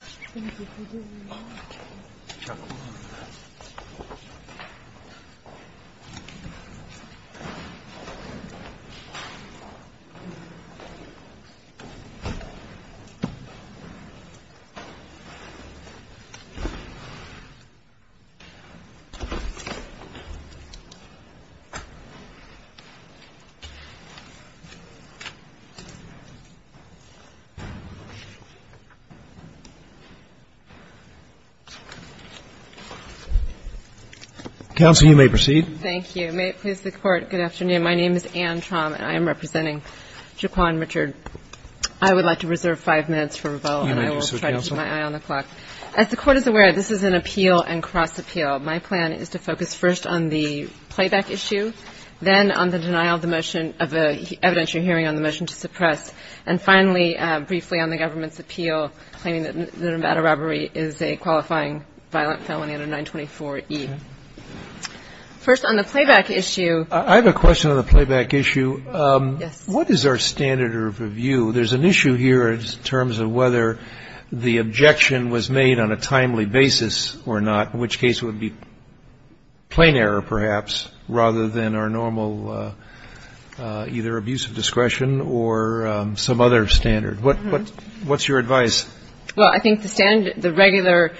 Thank you. Counsel, you may proceed. Thank you. May it please the Court, good afternoon. My name is Anne Traum, and I am representing Jaquan Richard. I would like to reserve five minutes for rebuttal, and I will try to keep my eye on the clock. As the Court is aware, this is an appeal and cross-appeal. My plan is to focus first on the playback issue, then on the denial of the motion of the evidentiary hearing on the motion to suppress, and finally, briefly, on the government's appeal, claiming that a matter of robbery is a qualifying violent felony under 924E. First on the playback issue. I have a question on the playback issue. What is our standard of review? There's an issue here in terms of whether the objection was made on a timely basis or not, in which case it would be plain error, perhaps, rather than our normal either abuse of discretion or some other standard. What's your advice? Well, I think the standard, the regular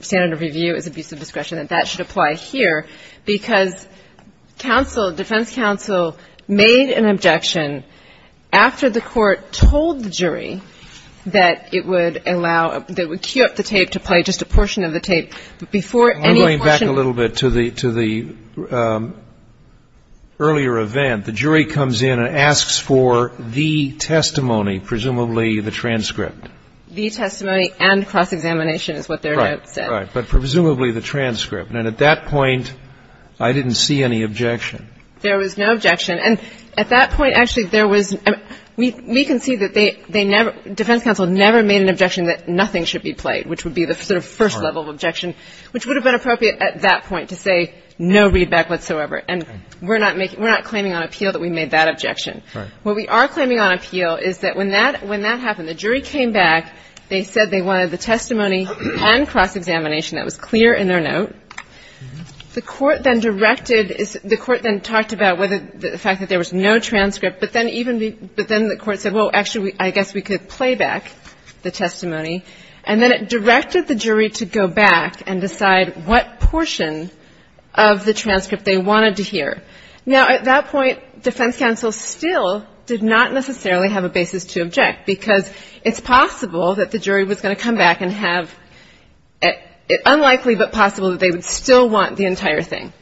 standard of review is abuse of discretion, and that should apply here, because counsel, defense counsel, made an objection after the Court told the jury that it would allow, that it would cue up the tape to play just a portion of the tape, but before any portion of the tape was played, the testimony, presumably the transcript. The testimony and cross-examination is what their notes said. Right, right. But presumably the transcript. And at that point, I didn't see any objection. There was no objection. And at that point, actually, there was, we can see that they never, defense counsel never made an objection that nothing should be played, which would be the sort of first level of objection, which would have been appropriate at that point to say no readback whatsoever. And we're not making, we're not claiming on appeal that we made that objection. Right. What we are claiming on appeal is that when that, when that happened, the jury came back, they said they wanted the testimony and cross-examination, that was clear in their note. The Court then directed, the Court then talked about whether, the fact that there was no transcript, but then even, but then the Court said, well, actually, I guess we could play back the testimony, and then it directed the jury to go back and decide what portion of the transcript they wanted to hear. Now, at that point, defense counsel still did not necessarily have a basis to object, because it's possible that the jury was going to come back and have, unlikely but possible that they would still want the entire thing.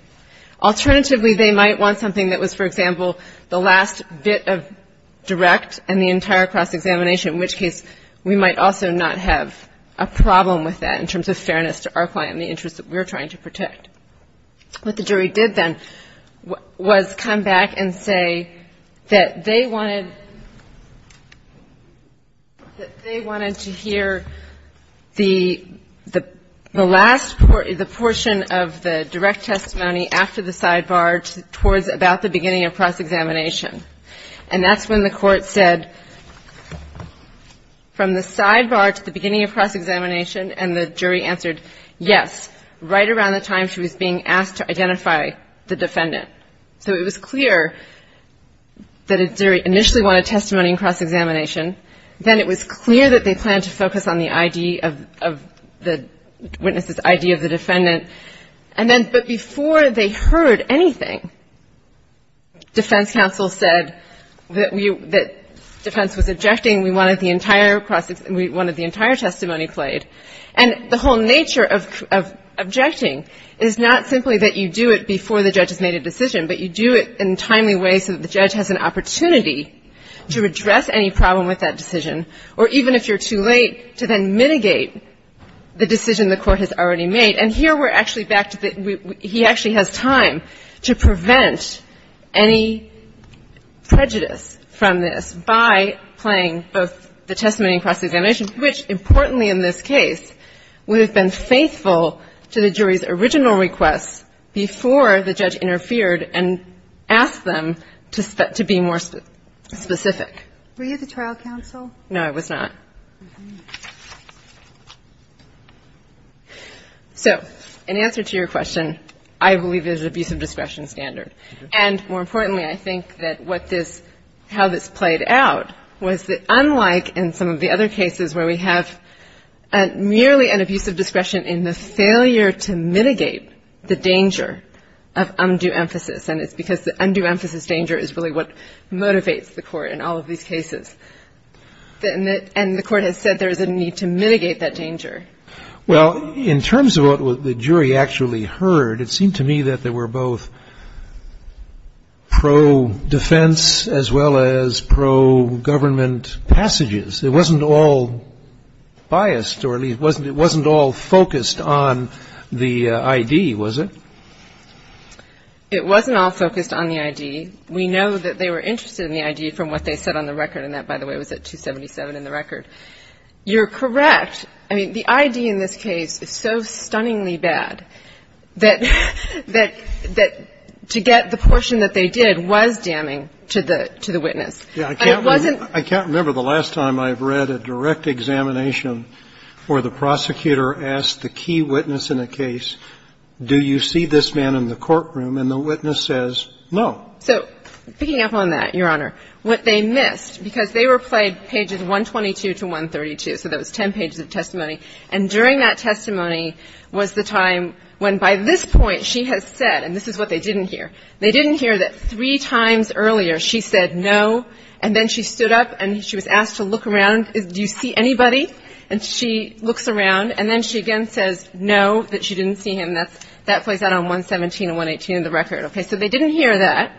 Alternatively, they might want something that was, for example, the last bit of direct and the entire cross-examination, in which case we might also not have a problem with that in terms of fairness to our client and the interests that we're trying to protect. What the jury did then was come back and say that they wanted, that they wanted to hear the, the last, the portion of the direct testimony after the sidebar towards about the beginning of cross-examination, and that's when the Court said, from the sidebar to the beginning of cross-examination, and the jury answered yes, right around the time she was being asked to identify the defendant. So it was clear that the jury initially wanted testimony in cross-examination. Then it was clear that they planned to focus on the ID of, of the witness's ID of the defendant. And then, but before they heard anything, defense counsel said that we, that defense was objecting. We wanted the entire cross, we wanted the entire testimony played. And the whole nature of, of objecting is not simply that you do it before the judge has made a decision, but you do it in a timely way so that the judge has an opportunity to address any problem with that decision, or even if you're too late, to then mitigate the decision the Court has already made. And here we're actually back to the, we, he actually has time to prevent any prejudice from this by playing both the testimony and cross-examination, which, importantly in this case, would have been faithful to the jury's original requests before the judge interfered and asked them to, to be more specific. Were you the trial counsel? No, I was not. So, in answer to your question, I believe it is an abuse of discretion standard. And more importantly, I think that what this, how this played out was that unlike in some of the other cases where we have merely an abuse of discretion in the failure to mitigate the danger of undue emphasis, and it's because the undue emphasis danger is really what motivates the Court in all of these cases, that in the, and the Court has said there is a need to mitigate that danger. Well, in terms of what the jury actually heard, it seemed to me that they were both pro-defense as well as pro-government passages. It wasn't all biased, or at least, it wasn't all focused on the ID, was it? It wasn't all focused on the ID. We know that they were interested in the ID from what they said on the record, and that, by the way, was at 277 in the record. You're correct. I mean, the ID in this case is so stunningly bad that, that, to get the portion that they did was damning to the, to the witness. Yeah, I can't remember, I can't remember the last time I've read a direct examination where the prosecutor asked the key witness in a case, do you see this man in the courtroom, and the witness says, no. So, picking up on that, Your Honor, what they missed, because they were played pages 122 to 132, so that was 10 pages of testimony, and during that testimony was the time when, by this point, she has said, and this is what they didn't hear. They didn't hear that three times earlier she said no, and then she stood up and she was asked to look around, do you see anybody? And she looks around, and then she again says no, that she didn't see him. That's, that plays out on 117 and 118 in the record, okay? So they didn't hear that.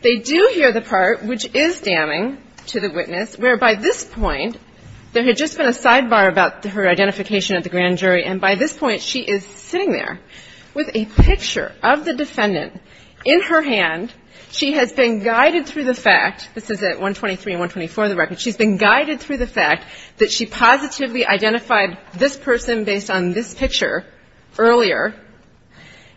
They do hear the part which is damning to the witness, where by this point, there had just been a sidebar about her identification at the grand jury, and by this point, she is sitting there with a picture of the defendant in her hand. She has been guided through the fact, this is at 123 and 124 in the record, she's been guided through the fact that she positively identified this person based on this picture earlier,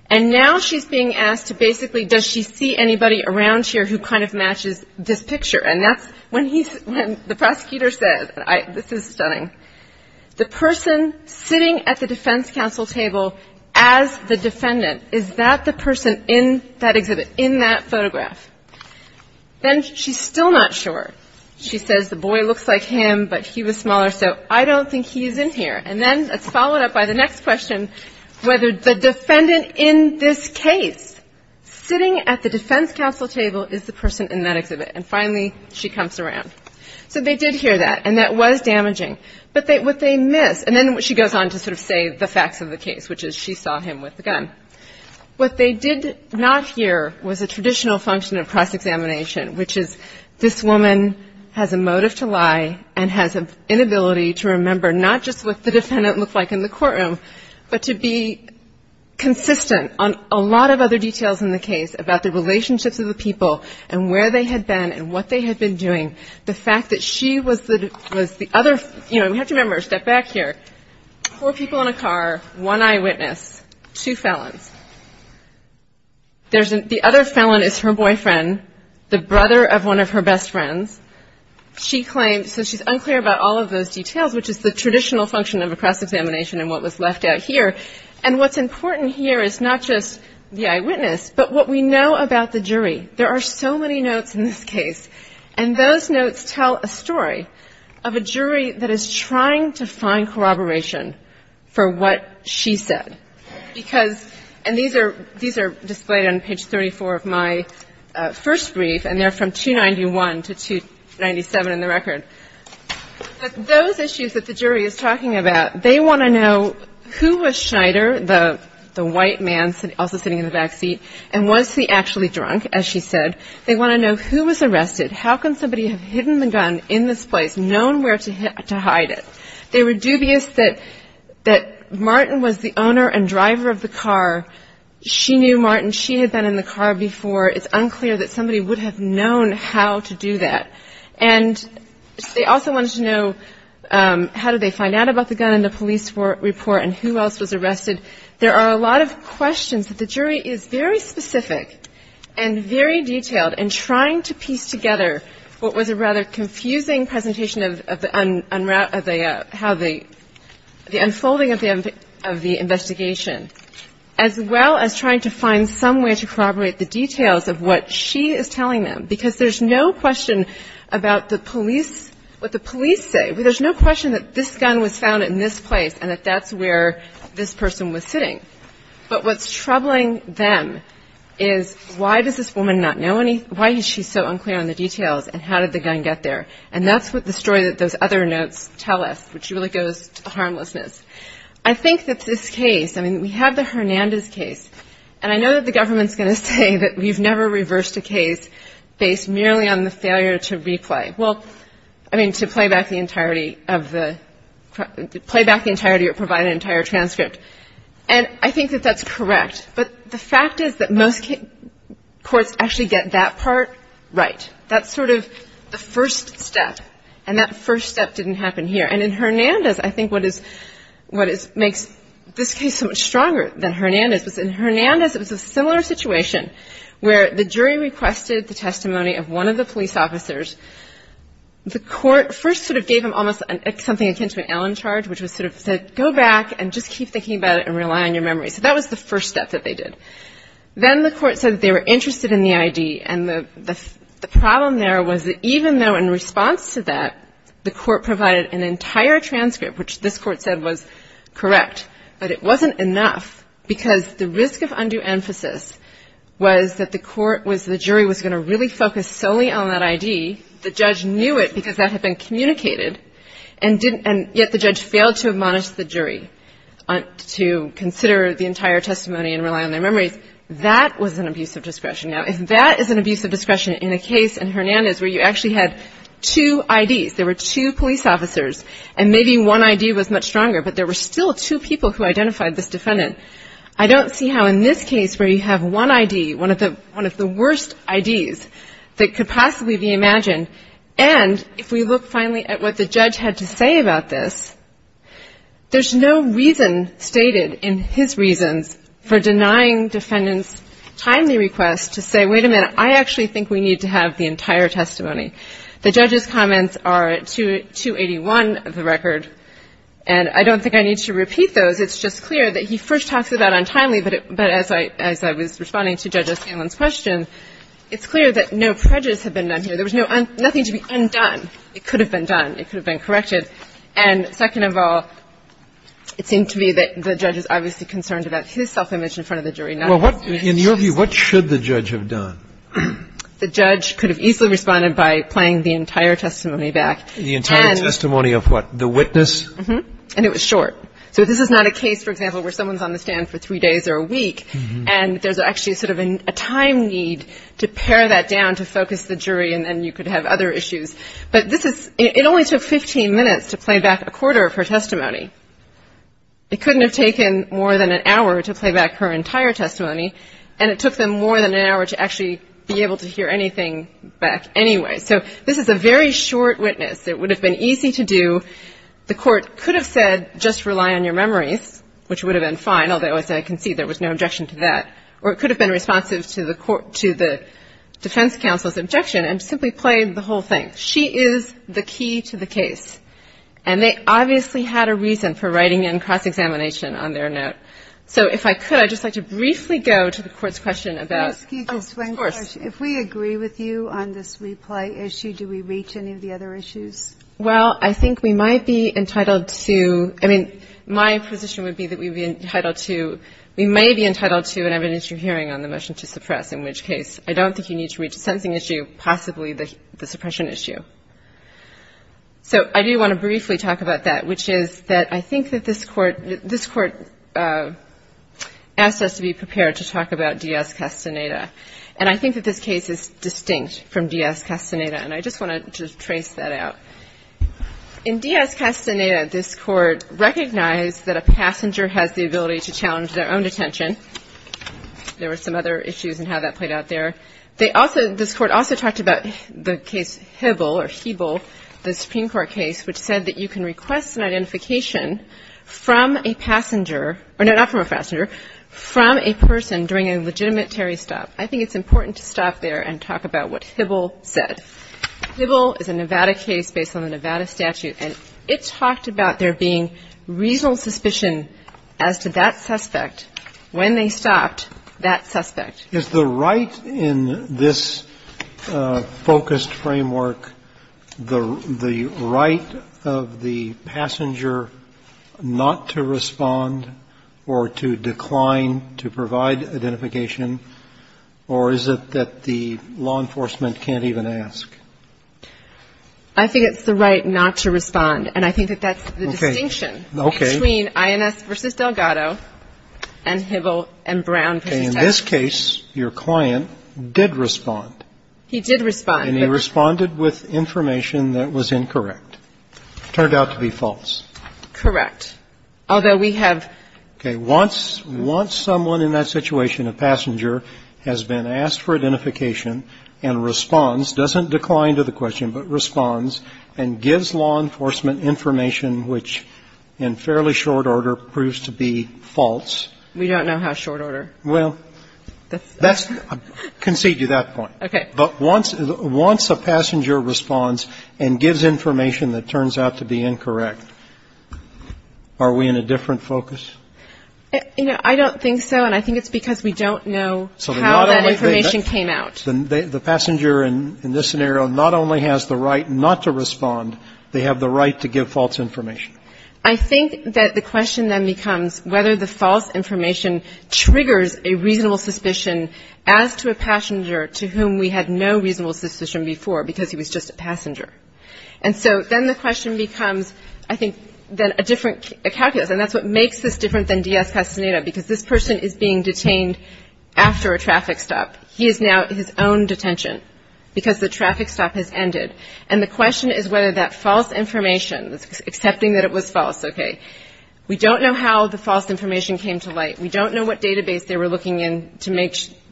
and now she's being asked to basically, does she see anybody around here who kind of matches this picture? And that's when he's, when the prosecutor says, this is stunning, the person sitting at the defense counsel table as the defendant, is that the person in that exhibit, in that photograph? Then she's still not sure. She says the boy looks like him, but he was smaller, so I don't think he's in here. And then it's followed up by the next question, whether the defendant in this And finally, she comes around. So they did hear that, and that was damaging. But what they missed, and then she goes on to sort of say the facts of the case, which is she saw him with the gun. What they did not hear was a traditional function of cross-examination, which is this woman has a motive to lie and has an inability to remember, not just what the defendant looked like in the courtroom, but to be consistent on a lot of other details in the case about the relationships of the people and where they had been and what they had been doing. The fact that she was the other, you know, we have to remember, step back here. Four people in a car, one eyewitness, two felons. The other felon is her boyfriend, the brother of one of her best friends. She claims, so she's unclear about all of those details, which is the traditional function of a cross-examination and what was left out here. And what's important here is not just the eyewitness, but what we know about the jury. There are so many notes in this case. And those notes tell a story of a jury that is trying to find corroboration for what she said, because, and these are displayed on page 34 of my first brief, and they're from 291 to 297 in the record. But those issues that the jury is talking about, they want to know who was Schneider, the white man also sitting in the back seat, and was he actually drunk, as she said. They want to know who was arrested. How can somebody have hidden the gun in this place, known where to hide it? They were dubious that Martin was the owner and driver of the car. She knew Martin. She had been in the car before. It's unclear that somebody would have known how to do that. And they also wanted to know how did they find out about the gun in the police report and who else was arrested. There are a lot of questions that the jury is very specific and very detailed in trying to piece together what was a rather confusing presentation of the unrave of the how the unfolding of the investigation, as well as trying to find some way to corroborate the details of what she is telling them. Because there's no question about the police, what the police say. There's no question that this gun was found in this place and that that's where this person was sitting. But what's troubling them is why does this woman not know any, why is she so unclear on the details, and how did the gun get there? And that's what the story that those other notes tell us, which really goes to the harmlessness. I think that this case, I mean, we have the Hernandez case. And I know that the government's gonna say that we've never reversed a case based merely on the failure to replay. Well, I mean, to play back the entirety of the, play back the entirety or provide an entire transcript. And I think that that's correct. But the fact is that most courts actually get that part right. That's sort of the first step. And that first step didn't happen here. And in Hernandez, I think what is, what is, makes this case so much stronger than Hernandez. Because in Hernandez, it was a similar situation where the jury requested the testimony of one of the police officers. The court first sort of gave him almost something akin to an Allen charge, which was sort of said, go back and just keep thinking about it and rely on your memory. So that was the first step that they did. Then the court said that they were interested in the ID. And the problem there was that even though in response to that, the court provided an entire transcript, which this court said was correct. But it wasn't enough because the risk of undue emphasis was that the court was, the jury was going to really focus solely on that ID. The judge knew it because that had been communicated and didn't, and yet the judge failed to admonish the jury to consider the entire testimony and rely on their memories. That was an abuse of discretion. Now, if that is an abuse of discretion in a case in Hernandez where you actually had two IDs, there were two police officers, and maybe one ID was much stronger. But there were still two people who identified this defendant. I don't see how in this case where you have one ID, one of the worst IDs that could possibly be imagined. And if we look finally at what the judge had to say about this, there's no reason stated in his reasons for denying defendants timely requests to say, wait a minute, I actually think we need to have the entire testimony. The judge's comments are 281 of the record. And I don't think I need to repeat those. It's just clear that he first talks about untimely, but as I was responding to Judge O'Sallen's question, it's clear that no prejudice had been done here. There was nothing to be undone. It could have been done. It could have been corrected. And second of all, it seemed to me that the judge is obviously concerned about his self-image in front of the jury. Now, what- In your view, what should the judge have done? The judge could have easily responded by playing the entire testimony back. The entire testimony of what, the witness? Mm-hm. And it was short. So if this is not a case, for example, where someone's on the stand for three days or a week, and there's actually sort of a time need to pare that down to focus the jury, and then you could have other issues. But this is, it only took 15 minutes to play back a quarter of her testimony. It couldn't have taken more than an hour to play back her entire testimony, and it took them more than an hour to actually be able to hear anything back anyway. So this is a very short witness. It would have been easy to do. The court could have said, just rely on your memories, which would have been fine, although, as I can see, there was no objection to that. Or it could have been responsive to the defense counsel's objection and simply played the whole thing. She is the key to the case. And they obviously had a reason for writing in cross-examination on their note. So if I could, I'd just like to briefly go to the court's question about- Can I ask you just one question? Of course. If we agree with you on this replay issue, do we reach any of the other issues? Well, I think we might be entitled to, I mean, my position would be that we'd be entitled to, we may be entitled to an evidence you're hearing on the motion to suppress, in which case, I don't think you need to reach the sentencing issue, possibly the suppression issue. So I do want to briefly talk about that, which is that I think that this court asked us to be prepared to talk about Dies Castaneda. And I think that this case is distinct from Dies Castaneda, and I just want to trace that out. In Dies Castaneda, this court recognized that a passenger has the ability to challenge their own detention. There were some other issues in how that played out there. They also, this court also talked about the case Hibble, or Heeble, the Supreme Court case, which said that you can request an identification from a passenger, or no, not from a passenger, from a person during a legitimate Terry stop. I think it's important to stop there and talk about what Hibble said. Hibble is a Nevada case based on the Nevada statute, and it talked about there being reasonable suspicion as to that suspect when they stopped that suspect. Roberts, is the right in this focused framework the right of the passenger not to respond or to decline to provide identification, or is it that the law enforcement can't even ask? I think it's the right not to respond, and I think that that's the distinction between INS v. Delgado and Hibble and Brown v. Texas. Okay. In this case, your client did respond. He did respond. And he responded with information that was incorrect, turned out to be false. Correct. Although we have ---- Okay. Once someone in that situation, a passenger, has been asked for identification and responds, doesn't decline to the question, but responds and gives law enforcement information which, in fairly short order, proves to be false? We don't know how short order. Well, that's ---- Concede to that point. Okay. But once a passenger responds and gives information that turns out to be incorrect, are we in a different focus? You know, I don't think so, and I think it's because we don't know how that information came out. The passenger in this scenario not only has the right not to respond, they have the right to give false information. I think that the question then becomes whether the false information triggers a reasonable suspicion as to a passenger to whom we had no reasonable suspicion before because he was just a passenger. And so then the question becomes, I think, then a different calculus, and that's what makes this different than Diaz-Castaneda, because this person is being detained after a traffic stop. He is now in his own detention because the traffic stop has ended. And the question is whether that false information, accepting that it was false, okay, we don't know how the false information came to light. We don't know what database they were looking in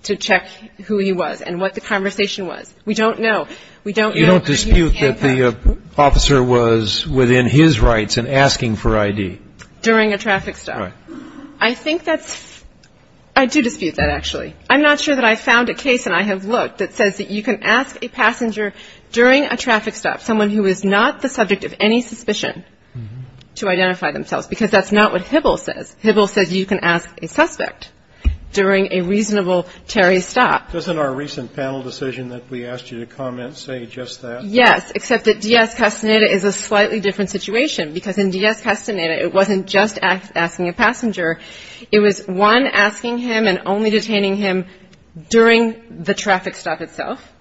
to check who he was and what the conversation was. We don't know. We don't know. You don't dispute that the officer was within his rights in asking for I.D.? During a traffic stop. Right. I think that's ---- I do dispute that, actually. I'm not sure that I found a case, and I have looked, that says that you can ask a traffic stop, someone who is not the subject of any suspicion, to identify themselves, because that's not what Hibble says. Hibble says you can ask a suspect during a reasonable Terry stop. Doesn't our recent panel decision that we asked you to comment say just that? Yes, except that Diaz-Castaneda is a slightly different situation, because in Diaz-Castaneda, it wasn't just asking a passenger. It was, one, asking him and only detaining him during the traffic stop itself.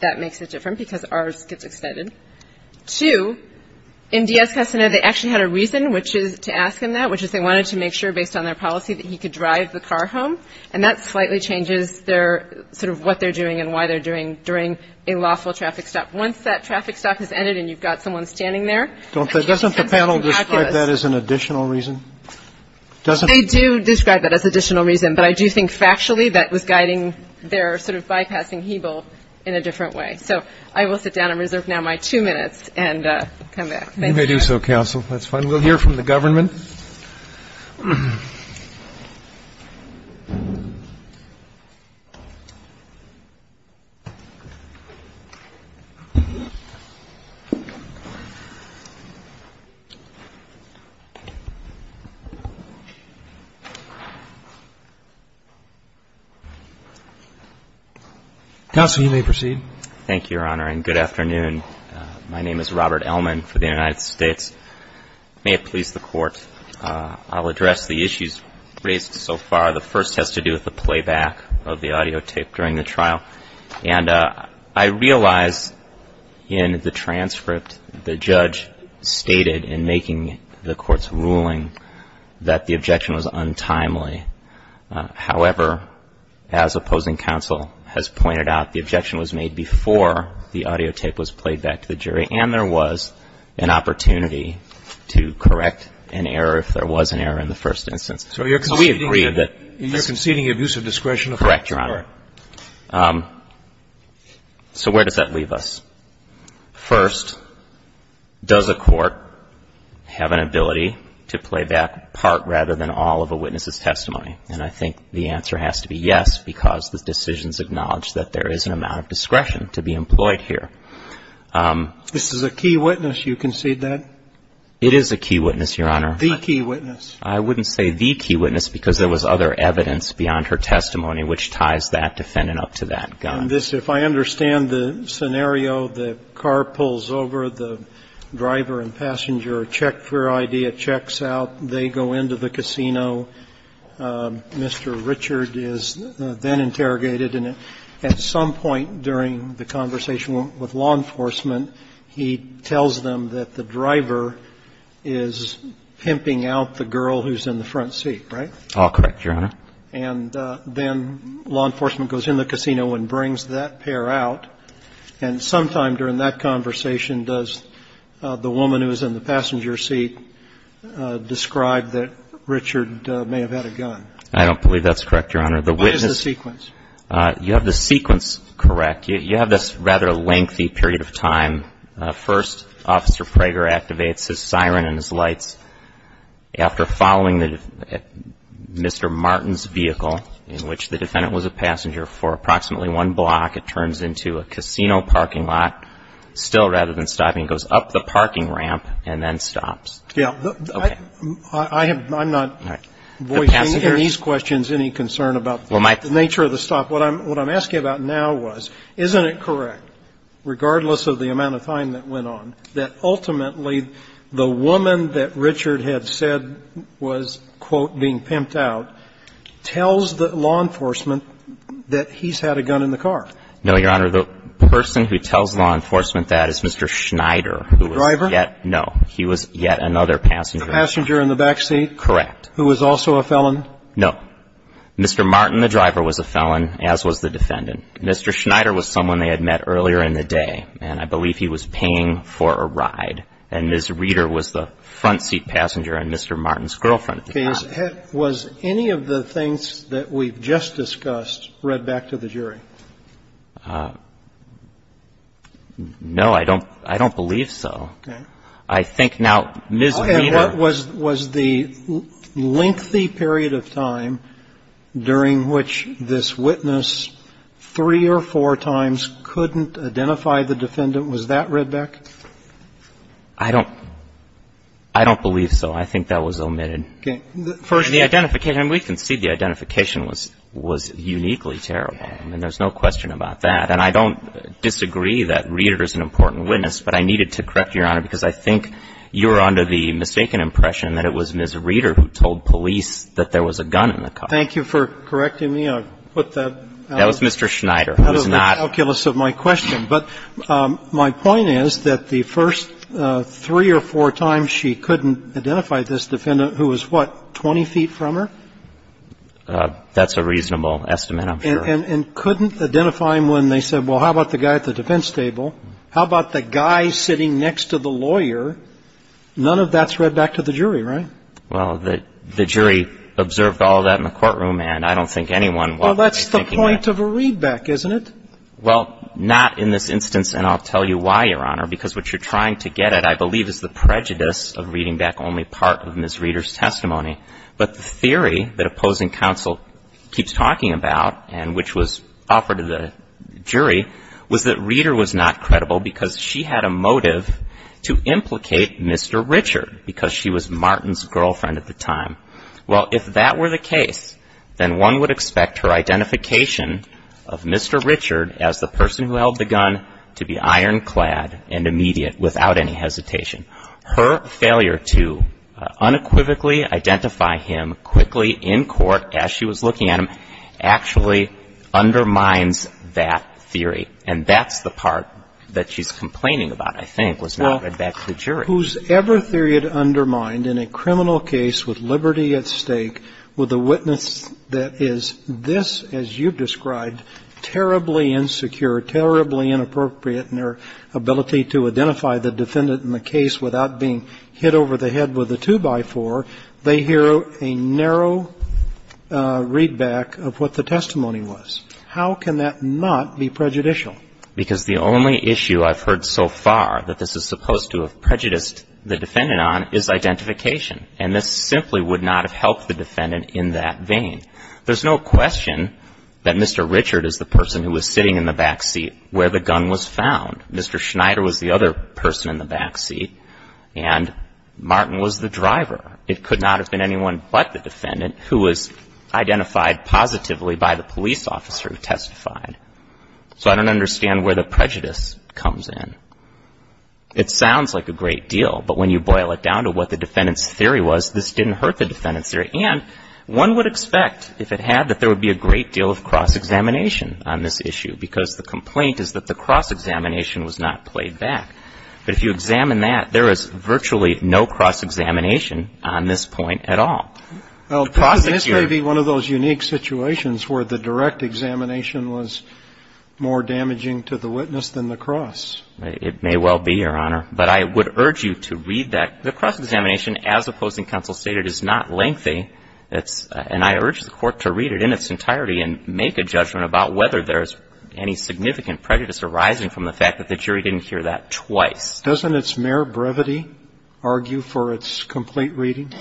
That makes it different, because ours gets extended. Two, in Diaz-Castaneda, they actually had a reason to ask him that, which is they wanted to make sure, based on their policy, that he could drive the car home. And that slightly changes their ---- sort of what they're doing and why they're doing during a lawful traffic stop. Once that traffic stop has ended and you've got someone standing there ---- Doesn't the panel describe that as an additional reason? They do describe that as additional reason, but I do think factually that was guiding their sort of bypassing Hebel in a different way. So I will sit down and reserve now my two minutes and come back. You may do so, counsel. That's fine. We'll hear from the government. Counsel, you may proceed. Thank you, Your Honor, and good afternoon. My name is Robert Ellman for the United States. May it please the Court, I'll address the issues raised so far. The first has to do with the playback of the audio tape during the trial. And I realize in the transcript the judge stated in making the Court's ruling that the objection was untimely. However, as opposing counsel has pointed out, the objection was made before the audio tape was played back to the jury, and there was an opportunity to correct an error if there was an error in the first instance. So we agree that ---- So you're conceding abuse of discretion? Correct, Your Honor. So where does that leave us? First, does a court have an ability to play back part rather than all of a witness's testimony? And I think the answer has to be yes, because the decisions acknowledge that there is an amount of discretion to be employed here. This is a key witness, you concede that? It is a key witness, Your Honor. The key witness. I wouldn't say the key witness, because there was other evidence beyond her testimony which ties that defendant up to that gun. And this, if I understand the scenario, the car pulls over, the driver and passenger check their ID, it checks out, they go into the casino. Mr. Richard is then interrogated, and at some point during the conversation with law enforcement, he tells them that the driver is pimping out the girl who's in the front seat, right? All correct, Your Honor. And then law enforcement goes in the casino and brings that pair out. And sometime during that conversation, does the woman who was in the passenger seat describe that Richard may have had a gun? I don't believe that's correct, Your Honor. What is the sequence? You have the sequence correct. You have this rather lengthy period of time. First, Officer Prager activates his siren and his lights. And then after approximately one block, it turns into a casino parking lot. Still, rather than stopping, it goes up the parking ramp and then stops. Yeah. Okay. I'm not voicing in these questions any concern about the nature of the stop. What I'm asking about now was, isn't it correct, regardless of the amount of time that went on, that ultimately the woman that Richard had said was, quote, being pimped out, tells the law enforcement that he's had a gun in the car? No, Your Honor. The person who tells law enforcement that is Mr. Schneider. The driver? No. He was yet another passenger. The passenger in the back seat? Correct. Who was also a felon? No. Mr. Martin, the driver, was a felon, as was the defendant. Mr. Schneider was someone they had met earlier in the day. And I believe he was paying for a ride. And Ms. Reeder was the front seat passenger and Mr. Martin's girlfriend. Okay. Was any of the things that we've just discussed read back to the jury? No. I don't believe so. Okay. I think now Ms. Reeder. And was the lengthy period of time during which this witness three or four times couldn't identify the defendant, was that read back? I don't believe so. I think that was omitted. Okay. The identification, we can see the identification was uniquely terrible. I mean, there's no question about that. And I don't disagree that Reeder is an important witness, but I needed to correct you, Your Honor, because I think you're under the mistaken impression that it was Ms. Reeder who told police that there was a gun in the car. Thank you for correcting me. I'll put that out of the calculus of my question. But my point is that the first three or four times she couldn't identify this defendant who was, what, 20 feet from her? That's a reasonable estimate, I'm sure. And couldn't identify him when they said, well, how about the guy at the defense table? How about the guy sitting next to the lawyer? None of that's read back to the jury, right? Well, the jury observed all of that in the courtroom, and I don't think anyone would be thinking that. Well, that's the point of a readback, isn't it? Well, not in this instance, and I'll tell you why, Your Honor, because what you're trying to get at, I believe, is the prejudice of reading back only part of Ms. Reeder's testimony. But the theory that opposing counsel keeps talking about and which was offered to the jury was that Reeder was not credible because she had a motive to implicate Mr. Richard because she was Martin's girlfriend at the time. Well, if that were the case, then one would expect her identification of Mr. Richard as the person who held the gun to be ironclad and immediate without any hesitation. Her failure to unequivocally identify him quickly in court as she was looking at him actually undermines that theory, and that's the part that she's complaining about, I think, was not read back to the jury. Well, whosever theory it undermined in a criminal case with liberty at stake with a witness that is this, as you've described, terribly insecure, terribly inappropriate in their ability to identify the defendant in the case without being hit over the head with a two-by-four, they hear a narrow readback of what the testimony was. How can that not be prejudicial? Because the only issue I've heard so far that this is supposed to have prejudiced the defendant on is identification, and this simply would not have helped the defendant in that vein. There's no question that Mr. Richard is the person who was sitting in the back seat where the gun was found. Mr. Schneider was the other person in the back seat, and Martin was the driver. It could not have been anyone but the defendant who was identified positively by the police officer who testified. So I don't understand where the prejudice comes in. It sounds like a great deal, but when you boil it down to what the defendant's theory was, this didn't hurt the defendant's theory. And one would expect, if it had, that there would be a great deal of cross examination on this issue, because the complaint is that the cross examination was not played back. But if you examine that, there is virtually no cross examination on this point at all. The prosecutor ---- Well, this may be one of those unique situations where the direct examination was more damaging to the witness than the cross. It may well be, Your Honor. But I would urge you to read that. The cross examination, as opposing counsel stated, is not lengthy. And I urge the Court to read it in its entirety and make a judgment about whether there's any significant prejudice arising from the fact that the jury didn't hear that twice. Doesn't its mere brevity argue for its complete reading?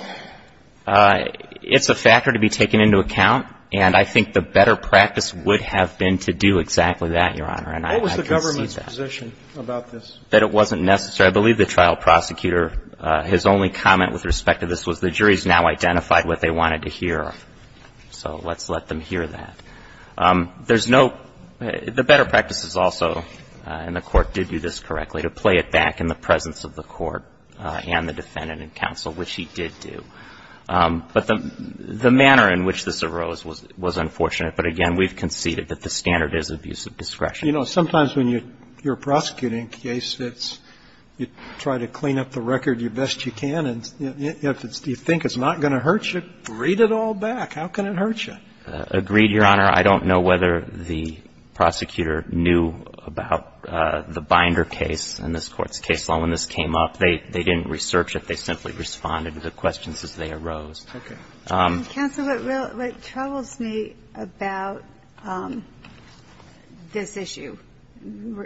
It's a factor to be taken into account, and I think the better practice would have been to do exactly that, Your Honor, and I can see that. What was the government's position about this? That it wasn't necessary. I believe the trial prosecutor, his only comment with respect to this was the jury has now identified what they wanted to hear, so let's let them hear that. There's no ---- The better practice is also, and the Court did do this correctly, to play it back in the presence of the Court and the defendant and counsel, which he did do. But the manner in which this arose was unfortunate, but again, we've conceded that the standard is abuse of discretion. You know, sometimes when you're prosecuting a case, you try to clean up the record the best you can, and if you think it's not going to hurt you, read it all back. How can it hurt you? Agreed, Your Honor. I don't know whether the prosecutor knew about the Binder case in this Court's case. When this came up, they didn't research it. They simply responded to the questions as they arose. Okay. Counsel, what troubles me about this issue,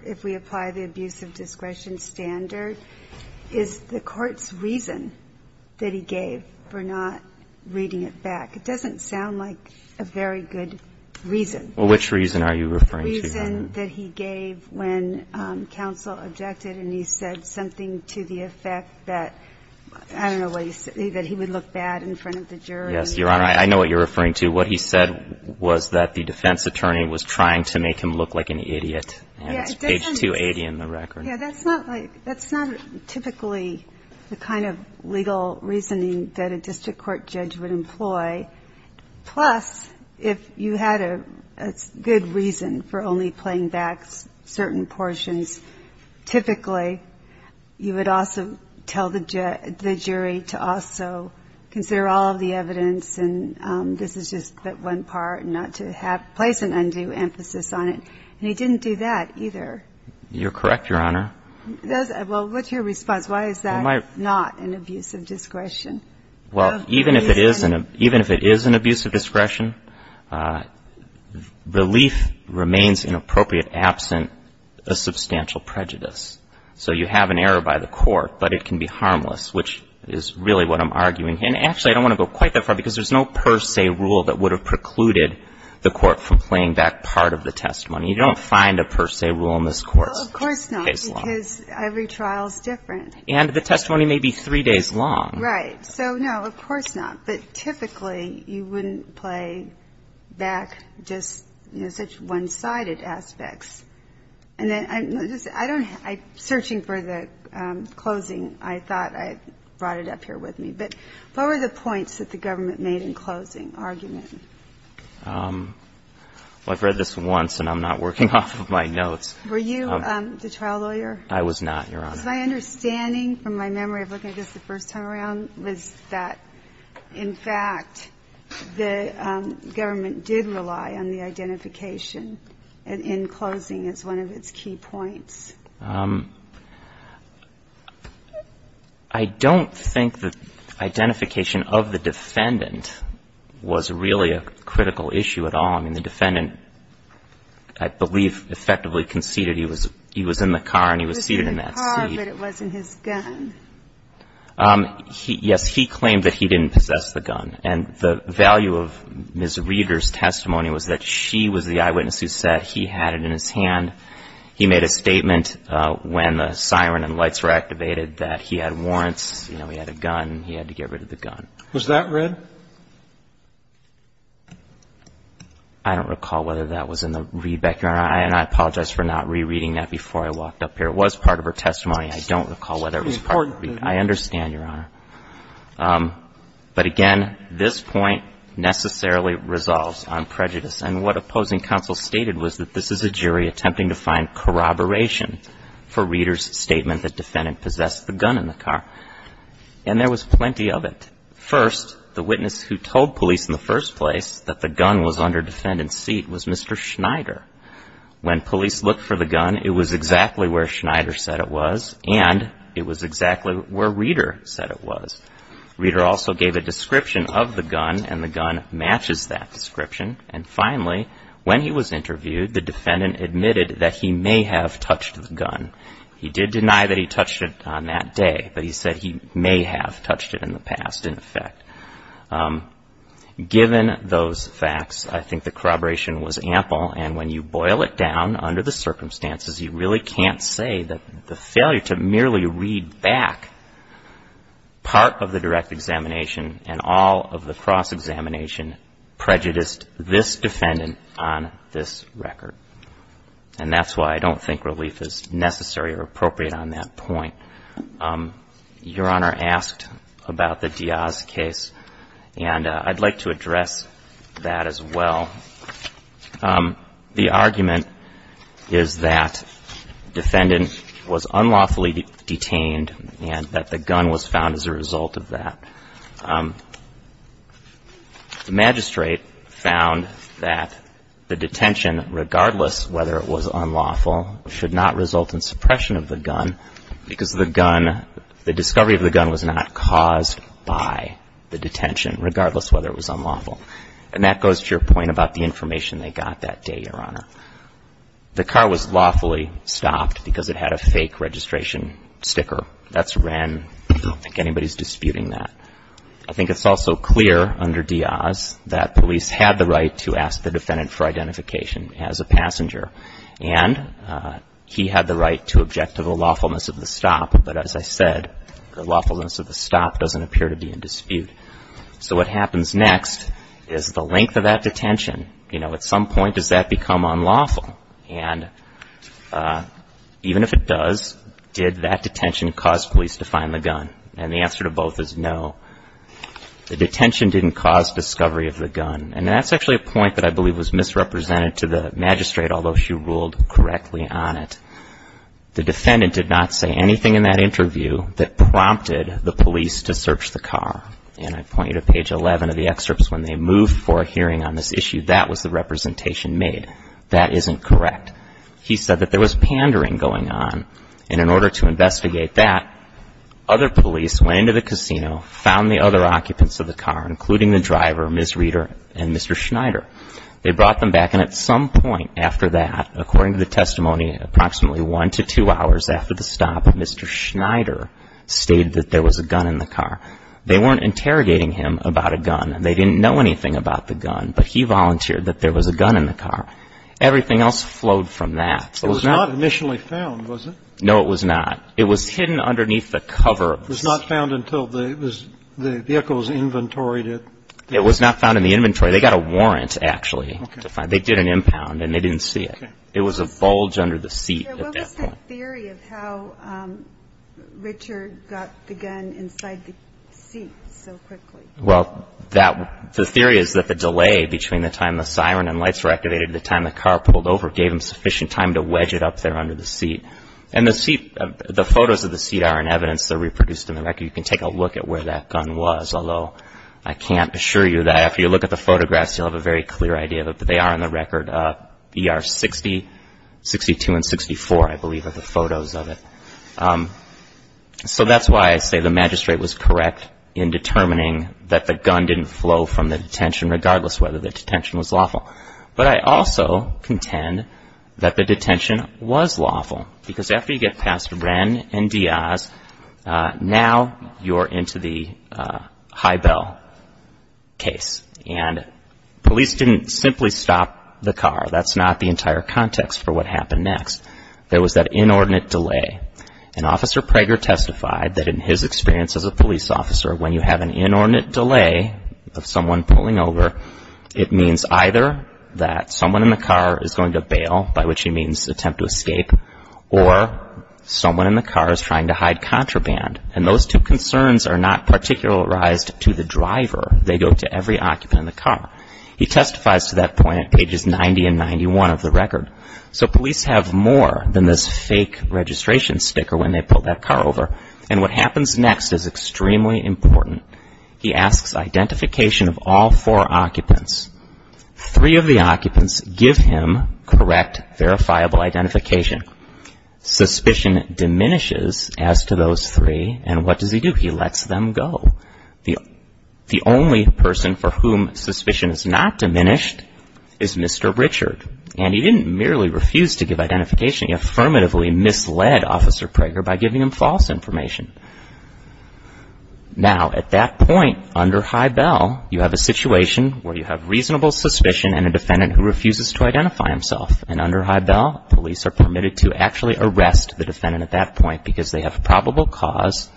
if we apply the abuse of discretion standard, is the Court's reason that he gave for not reading it back. It doesn't sound like a very good reason. Well, which reason are you referring to, Your Honor? The reason that he gave when counsel objected and he said something to the effect that, I don't know what he said, that he would look bad in front of the jury. Yes, Your Honor, I know what you're referring to. What he said was that the defense attorney was trying to make him look like an idiot, and it's page 280 in the record. Yeah, that's not typically the kind of legal reasoning that a district court judge would employ. Plus, if you had a good reason for only playing back certain portions, typically you would also tell the jury to also consider all of the evidence and this is just that one part and not to place an undue emphasis on it. And he didn't do that either. You're correct, Your Honor. Well, what's your response? Why is that not an abuse of discretion? Well, even if it is an abuse of discretion, relief remains inappropriate absent a substantial prejudice. So you have an error by the Court, but it can be harmless, which is really what I'm arguing. And actually, I don't want to go quite that far, because there's no per se rule that would have precluded the Court from playing back part of the testimony. You don't find a per se rule in this Court's case law. Well, of course not, because every trial is different. And the testimony may be three days long. Right. So, no, of course not. But typically, you wouldn't play back just such one-sided aspects. And then I'm searching for the closing. I thought I brought it up here with me. But what were the points that the government made in closing argument? Well, I've read this once, and I'm not working off of my notes. Were you the trial lawyer? I was not, Your Honor. Because my understanding from my memory of looking at this the first time around was that, in fact, the government did rely on the identification in closing as one of its key points. I don't think the identification of the defendant was really a critical issue at all. I mean, the defendant, I believe, effectively conceded he was in the car and he was seated in that seat. He was in the car, but it wasn't his gun. Yes. He claimed that he didn't possess the gun. And the value of Ms. Reeder's testimony was that she was the eyewitness who said he had it in his hand. He made a statement when the siren and lights were activated that he had warrants, you know, he had a gun, he had to get rid of the gun. Was that read? I don't recall whether that was in the readback, Your Honor. And I apologize for not rereading that before I walked up here. It was part of her testimony. I don't recall whether it was part of the readback. I understand, Your Honor. But, again, this point necessarily resolves on prejudice. And what opposing counsel stated was that this is a jury attempting to find corroboration for Reeder's statement that defendant possessed the gun in the car. And there was plenty of it. First, the witness who told police in the first place that the gun was under defendant's seat was Mr. Schneider. When police looked for the gun, it was exactly where Schneider said it was, and it was exactly where Reeder said it was. Reeder also gave a description of the gun, and the gun matches that description. And, finally, when he was interviewed, the defendant admitted that he may have touched the gun. He did deny that he touched it on that day, but he said he may have touched it in the past, in effect. Given those facts, I think the corroboration was ample. And when you boil it down under the circumstances, you really can't say that the failure to merely read back part of the direct examination and all of the cross-examination prejudiced this defendant on this record. And that's why I don't think relief is necessary or appropriate on that point. Your Honor asked about the Diaz case, and I'd like to address that as well. The argument is that defendant was unlawfully detained and that the gun was stolen. The magistrate found that the detention, regardless whether it was unlawful, should not result in suppression of the gun because the discovery of the gun was not caused by the detention, regardless whether it was unlawful. And that goes to your point about the information they got that day, Your Honor. The car was lawfully stopped because it had a fake registration sticker. That's when I don't think anybody's disputing that. I think it's also clear under Diaz that police had the right to ask the defendant for identification as a passenger. And he had the right to object to the lawfulness of the stop. But as I said, the lawfulness of the stop doesn't appear to be in dispute. So what happens next is the length of that detention, you know, at some point does that become unlawful? And even if it does, did that detention cause police to find the gun? And the answer to both is no. The detention didn't cause discovery of the gun. And that's actually a point that I believe was misrepresented to the magistrate, although she ruled correctly on it. The defendant did not say anything in that interview that prompted the police to search the car. And I point you to page 11 of the excerpts when they moved for a hearing on this issue. That was the representation made. That isn't correct. He said that there was pandering going on. And in order to investigate that, other police went into the casino, found the other occupants of the car, including the driver, Ms. Reeder, and Mr. Schneider. They brought them back. And at some point after that, according to the testimony, approximately one to two hours after the stop, Mr. Schneider stated that there was a gun in the car. They weren't interrogating him about a gun. They didn't know anything about the gun. But he volunteered that there was a gun in the car. Everything else flowed from that. It was not initially found, was it? No, it was not. It was hidden underneath the cover. It was not found until the vehicle's inventory did? It was not found in the inventory. They got a warrant, actually, to find it. They did an impound, and they didn't see it. It was a bulge under the seat at that point. What was the theory of how Richard got the gun inside the seat so quickly? Well, the theory is that the delay between the time the siren and lights were the seat, and the photos of the seat are in evidence. They're reproduced in the record. You can take a look at where that gun was, although I can't assure you that after you look at the photographs, you'll have a very clear idea that they are in the record, ER 60, 62, and 64, I believe, are the photos of it. So that's why I say the magistrate was correct in determining that the gun didn't flow from the detention, regardless whether the detention was lawful. But I also contend that the detention was lawful, because after you get past Wren and Diaz, now you're into the high bell case. And police didn't simply stop the car. That's not the entire context for what happened next. There was that inordinate delay. And Officer Prager testified that in his experience as a police officer, when you have an inordinate delay of someone pulling over, it means either that someone in the car is going to bail, by which he means attempt to escape, or someone in the car is trying to hide contraband. And those two concerns are not particularized to the driver. They go to every occupant in the car. He testifies to that point at pages 90 and 91 of the record. So police have more than this fake registration sticker when they pull that car over. And what happens next is extremely important. He asks identification of all four occupants. Three of the occupants give him correct, verifiable identification. Suspicion diminishes as to those three, and what does he do? He lets them go. The only person for whom suspicion is not diminished is Mr. Richard. And he didn't merely refuse to give identification. He affirmatively misled Officer Prager by giving him false information. Now, at that point, under High Bell, you have a situation where you have reasonable suspicion and a defendant who refuses to identify himself. And under High Bell, police are permitted to actually arrest the defendant at that point because they have probable cause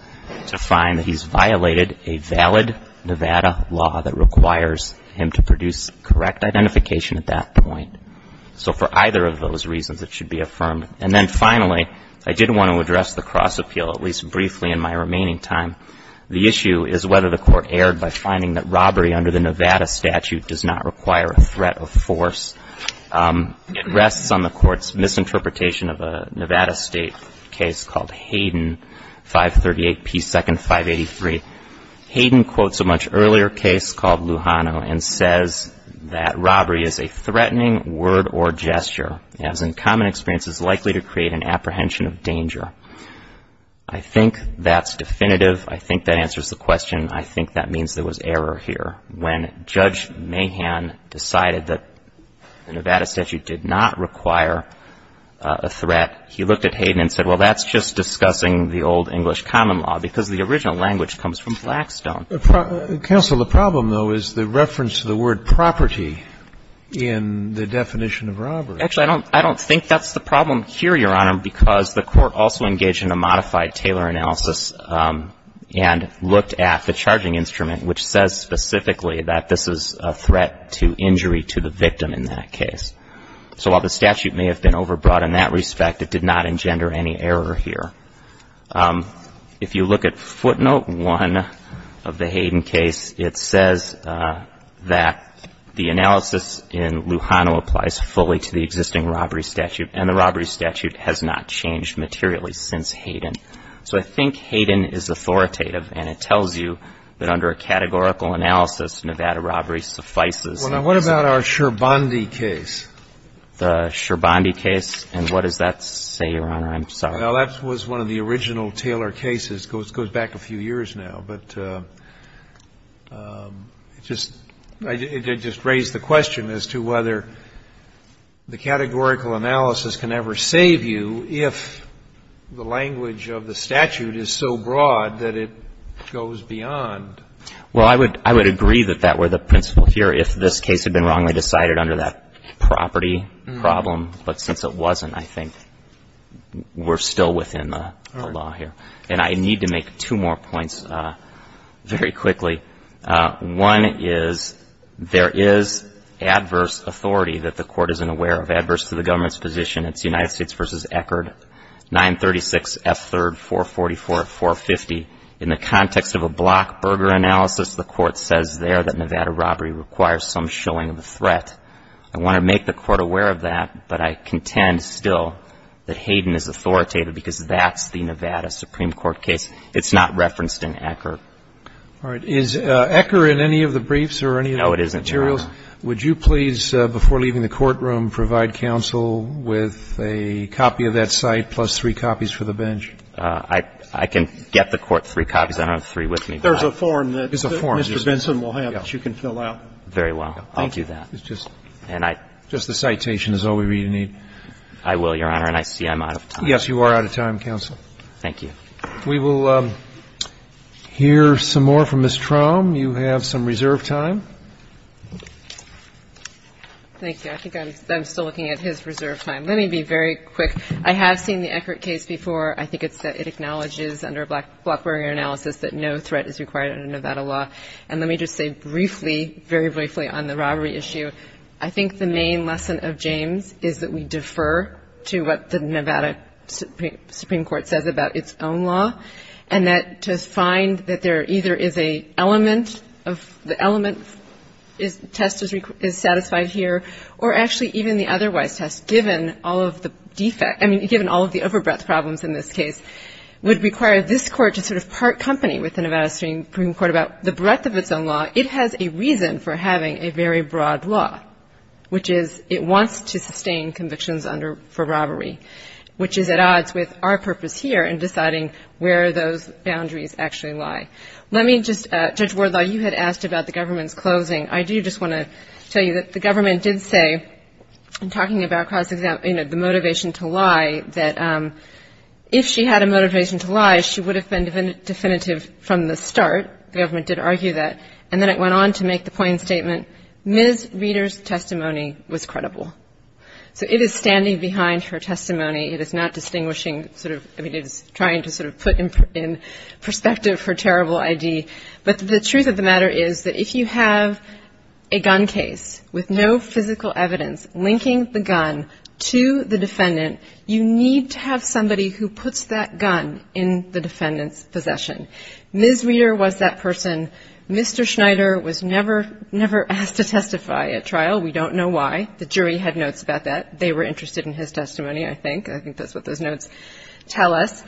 to find that he's violated a valid Nevada law that requires him to produce correct identification at that point. So for either of those reasons, it should be affirmed. And then finally, I did want to address the cross appeal, at least briefly, in my remaining time. The issue is whether the court erred by finding that robbery under the Nevada statute does not require a threat of force. It rests on the court's misinterpretation of a Nevada State case called Hayden, 538 P. 2nd, 583. Hayden quotes a much earlier case called Lujano and says that robbery is a way to create an apprehension of danger. I think that's definitive. I think that answers the question. I think that means there was error here. When Judge Mahan decided that the Nevada statute did not require a threat, he looked at Hayden and said, well, that's just discussing the old English common law because the original language comes from Blackstone. Counsel, the problem, though, is the reference to the word property in the definition of robbery. Actually, I don't think that's the problem here, Your Honor, because the court also engaged in a modified Taylor analysis and looked at the charging instrument, which says specifically that this is a threat to injury to the victim in that case. So while the statute may have been overbrought in that respect, it did not engender any error here. If you look at footnote one of the Hayden case, it says that the analysis in the existing robbery statute and the robbery statute has not changed materially since Hayden. So I think Hayden is authoritative, and it tells you that under a categorical analysis, Nevada robbery suffices. Well, now, what about our Scherbondy case? The Scherbondy case? And what does that say, Your Honor? I'm sorry. Well, that was one of the original Taylor cases. It goes back a few years now. But it just raised the question as to whether the categorical analysis can ever save you if the language of the statute is so broad that it goes beyond. Well, I would agree that that were the principle here if this case had been wrongly decided under that property problem. But since it wasn't, I think we're still within the law here. And I need to make two more points very quickly. One is there is adverse authority that the court isn't aware of. Adverse to the government's position, it's United States v. Eckerd, 936F3-444-450. In the context of a block burger analysis, the court says there that Nevada robbery requires some showing of a threat. I want to make the court aware of that, but I contend still that Hayden is not in the Supreme Court case. It's not referenced in Eckerd. All right. Is Eckerd in any of the briefs or any of the materials? No, it isn't, Your Honor. Would you please, before leaving the courtroom, provide counsel with a copy of that cite plus three copies for the bench? I can get the court three copies. I don't have three with me. There's a form that Mr. Benson will have that you can fill out. Very well. Thank you. I'll do that. Just the citation is all we really need. I will, Your Honor. And I see I'm out of time. Yes, you are out of time, counsel. Thank you. We will hear some more from Ms. Traum. You have some reserve time. Thank you. I think I'm still looking at his reserve time. Let me be very quick. I have seen the Eckerd case before. I think it acknowledges under a block burger analysis that no threat is required under Nevada law. And let me just say briefly, very briefly, on the robbery issue, I think the main lesson of James is that we defer to what the Nevada Supreme Court says about its own law, and that to find that there either is a element of the element test is satisfied here, or actually even the otherwise test, given all of the defect, I mean, given all of the overbreadth problems in this case, would require this Court to sort of part company with the Nevada Supreme Court about the breadth of its own law. It has a reason for having a very broad law, which is it wants to sustain convictions for robbery, which is at odds with our purpose here in deciding where those boundaries actually lie. Let me just, Judge Wardlaw, you had asked about the government's closing. I do just want to tell you that the government did say, in talking about the motivation to lie, that if she had a motivation to lie, she would have been definitive from the start. The government did argue that. And then it went on to make the plain statement, Ms. Reeder's testimony was credible. So it is standing behind her testimony. It is not distinguishing sort of, I mean, it is trying to sort of put in perspective for terrible ID. But the truth of the matter is that if you have a gun case with no physical evidence linking the gun to the defendant, you need to have somebody who puts that gun in the defendant's possession. Ms. Reeder was that person. Mr. Schneider was never asked to testify at trial. We don't know why. The jury had notes about that. They were interested in his testimony, I think. I think that's what those notes tell us.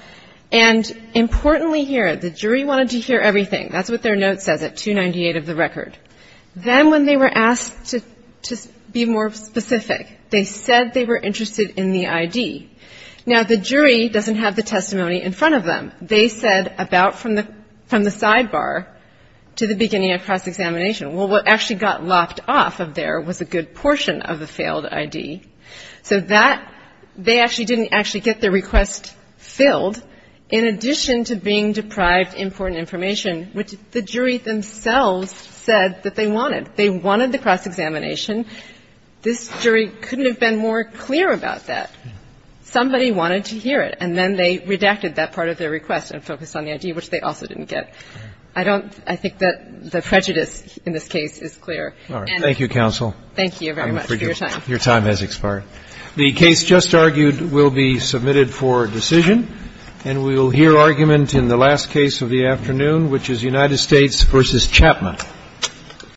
And importantly here, the jury wanted to hear everything. That's what their note says at 298 of the record. Then when they were asked to be more specific, they said they were interested in the ID. Now, the jury doesn't have the testimony in front of them. They said about from the sidebar to the beginning of cross-examination. Well, what actually got lopped off of there was a good portion of the failed ID. So that they actually didn't actually get their request filled in addition to being deprived of important information, which the jury themselves said that they wanted. They wanted the cross-examination. This jury couldn't have been more clear about that. Somebody wanted to hear it. And then they redacted that part of their request and focused on the ID, which they also didn't get. I think that the prejudice in this case is clear. Thank you, counsel. Thank you very much for your time. Your time has expired. The case just argued will be submitted for decision, and we will hear argument in the last case of the afternoon, which is United States v. Chapman.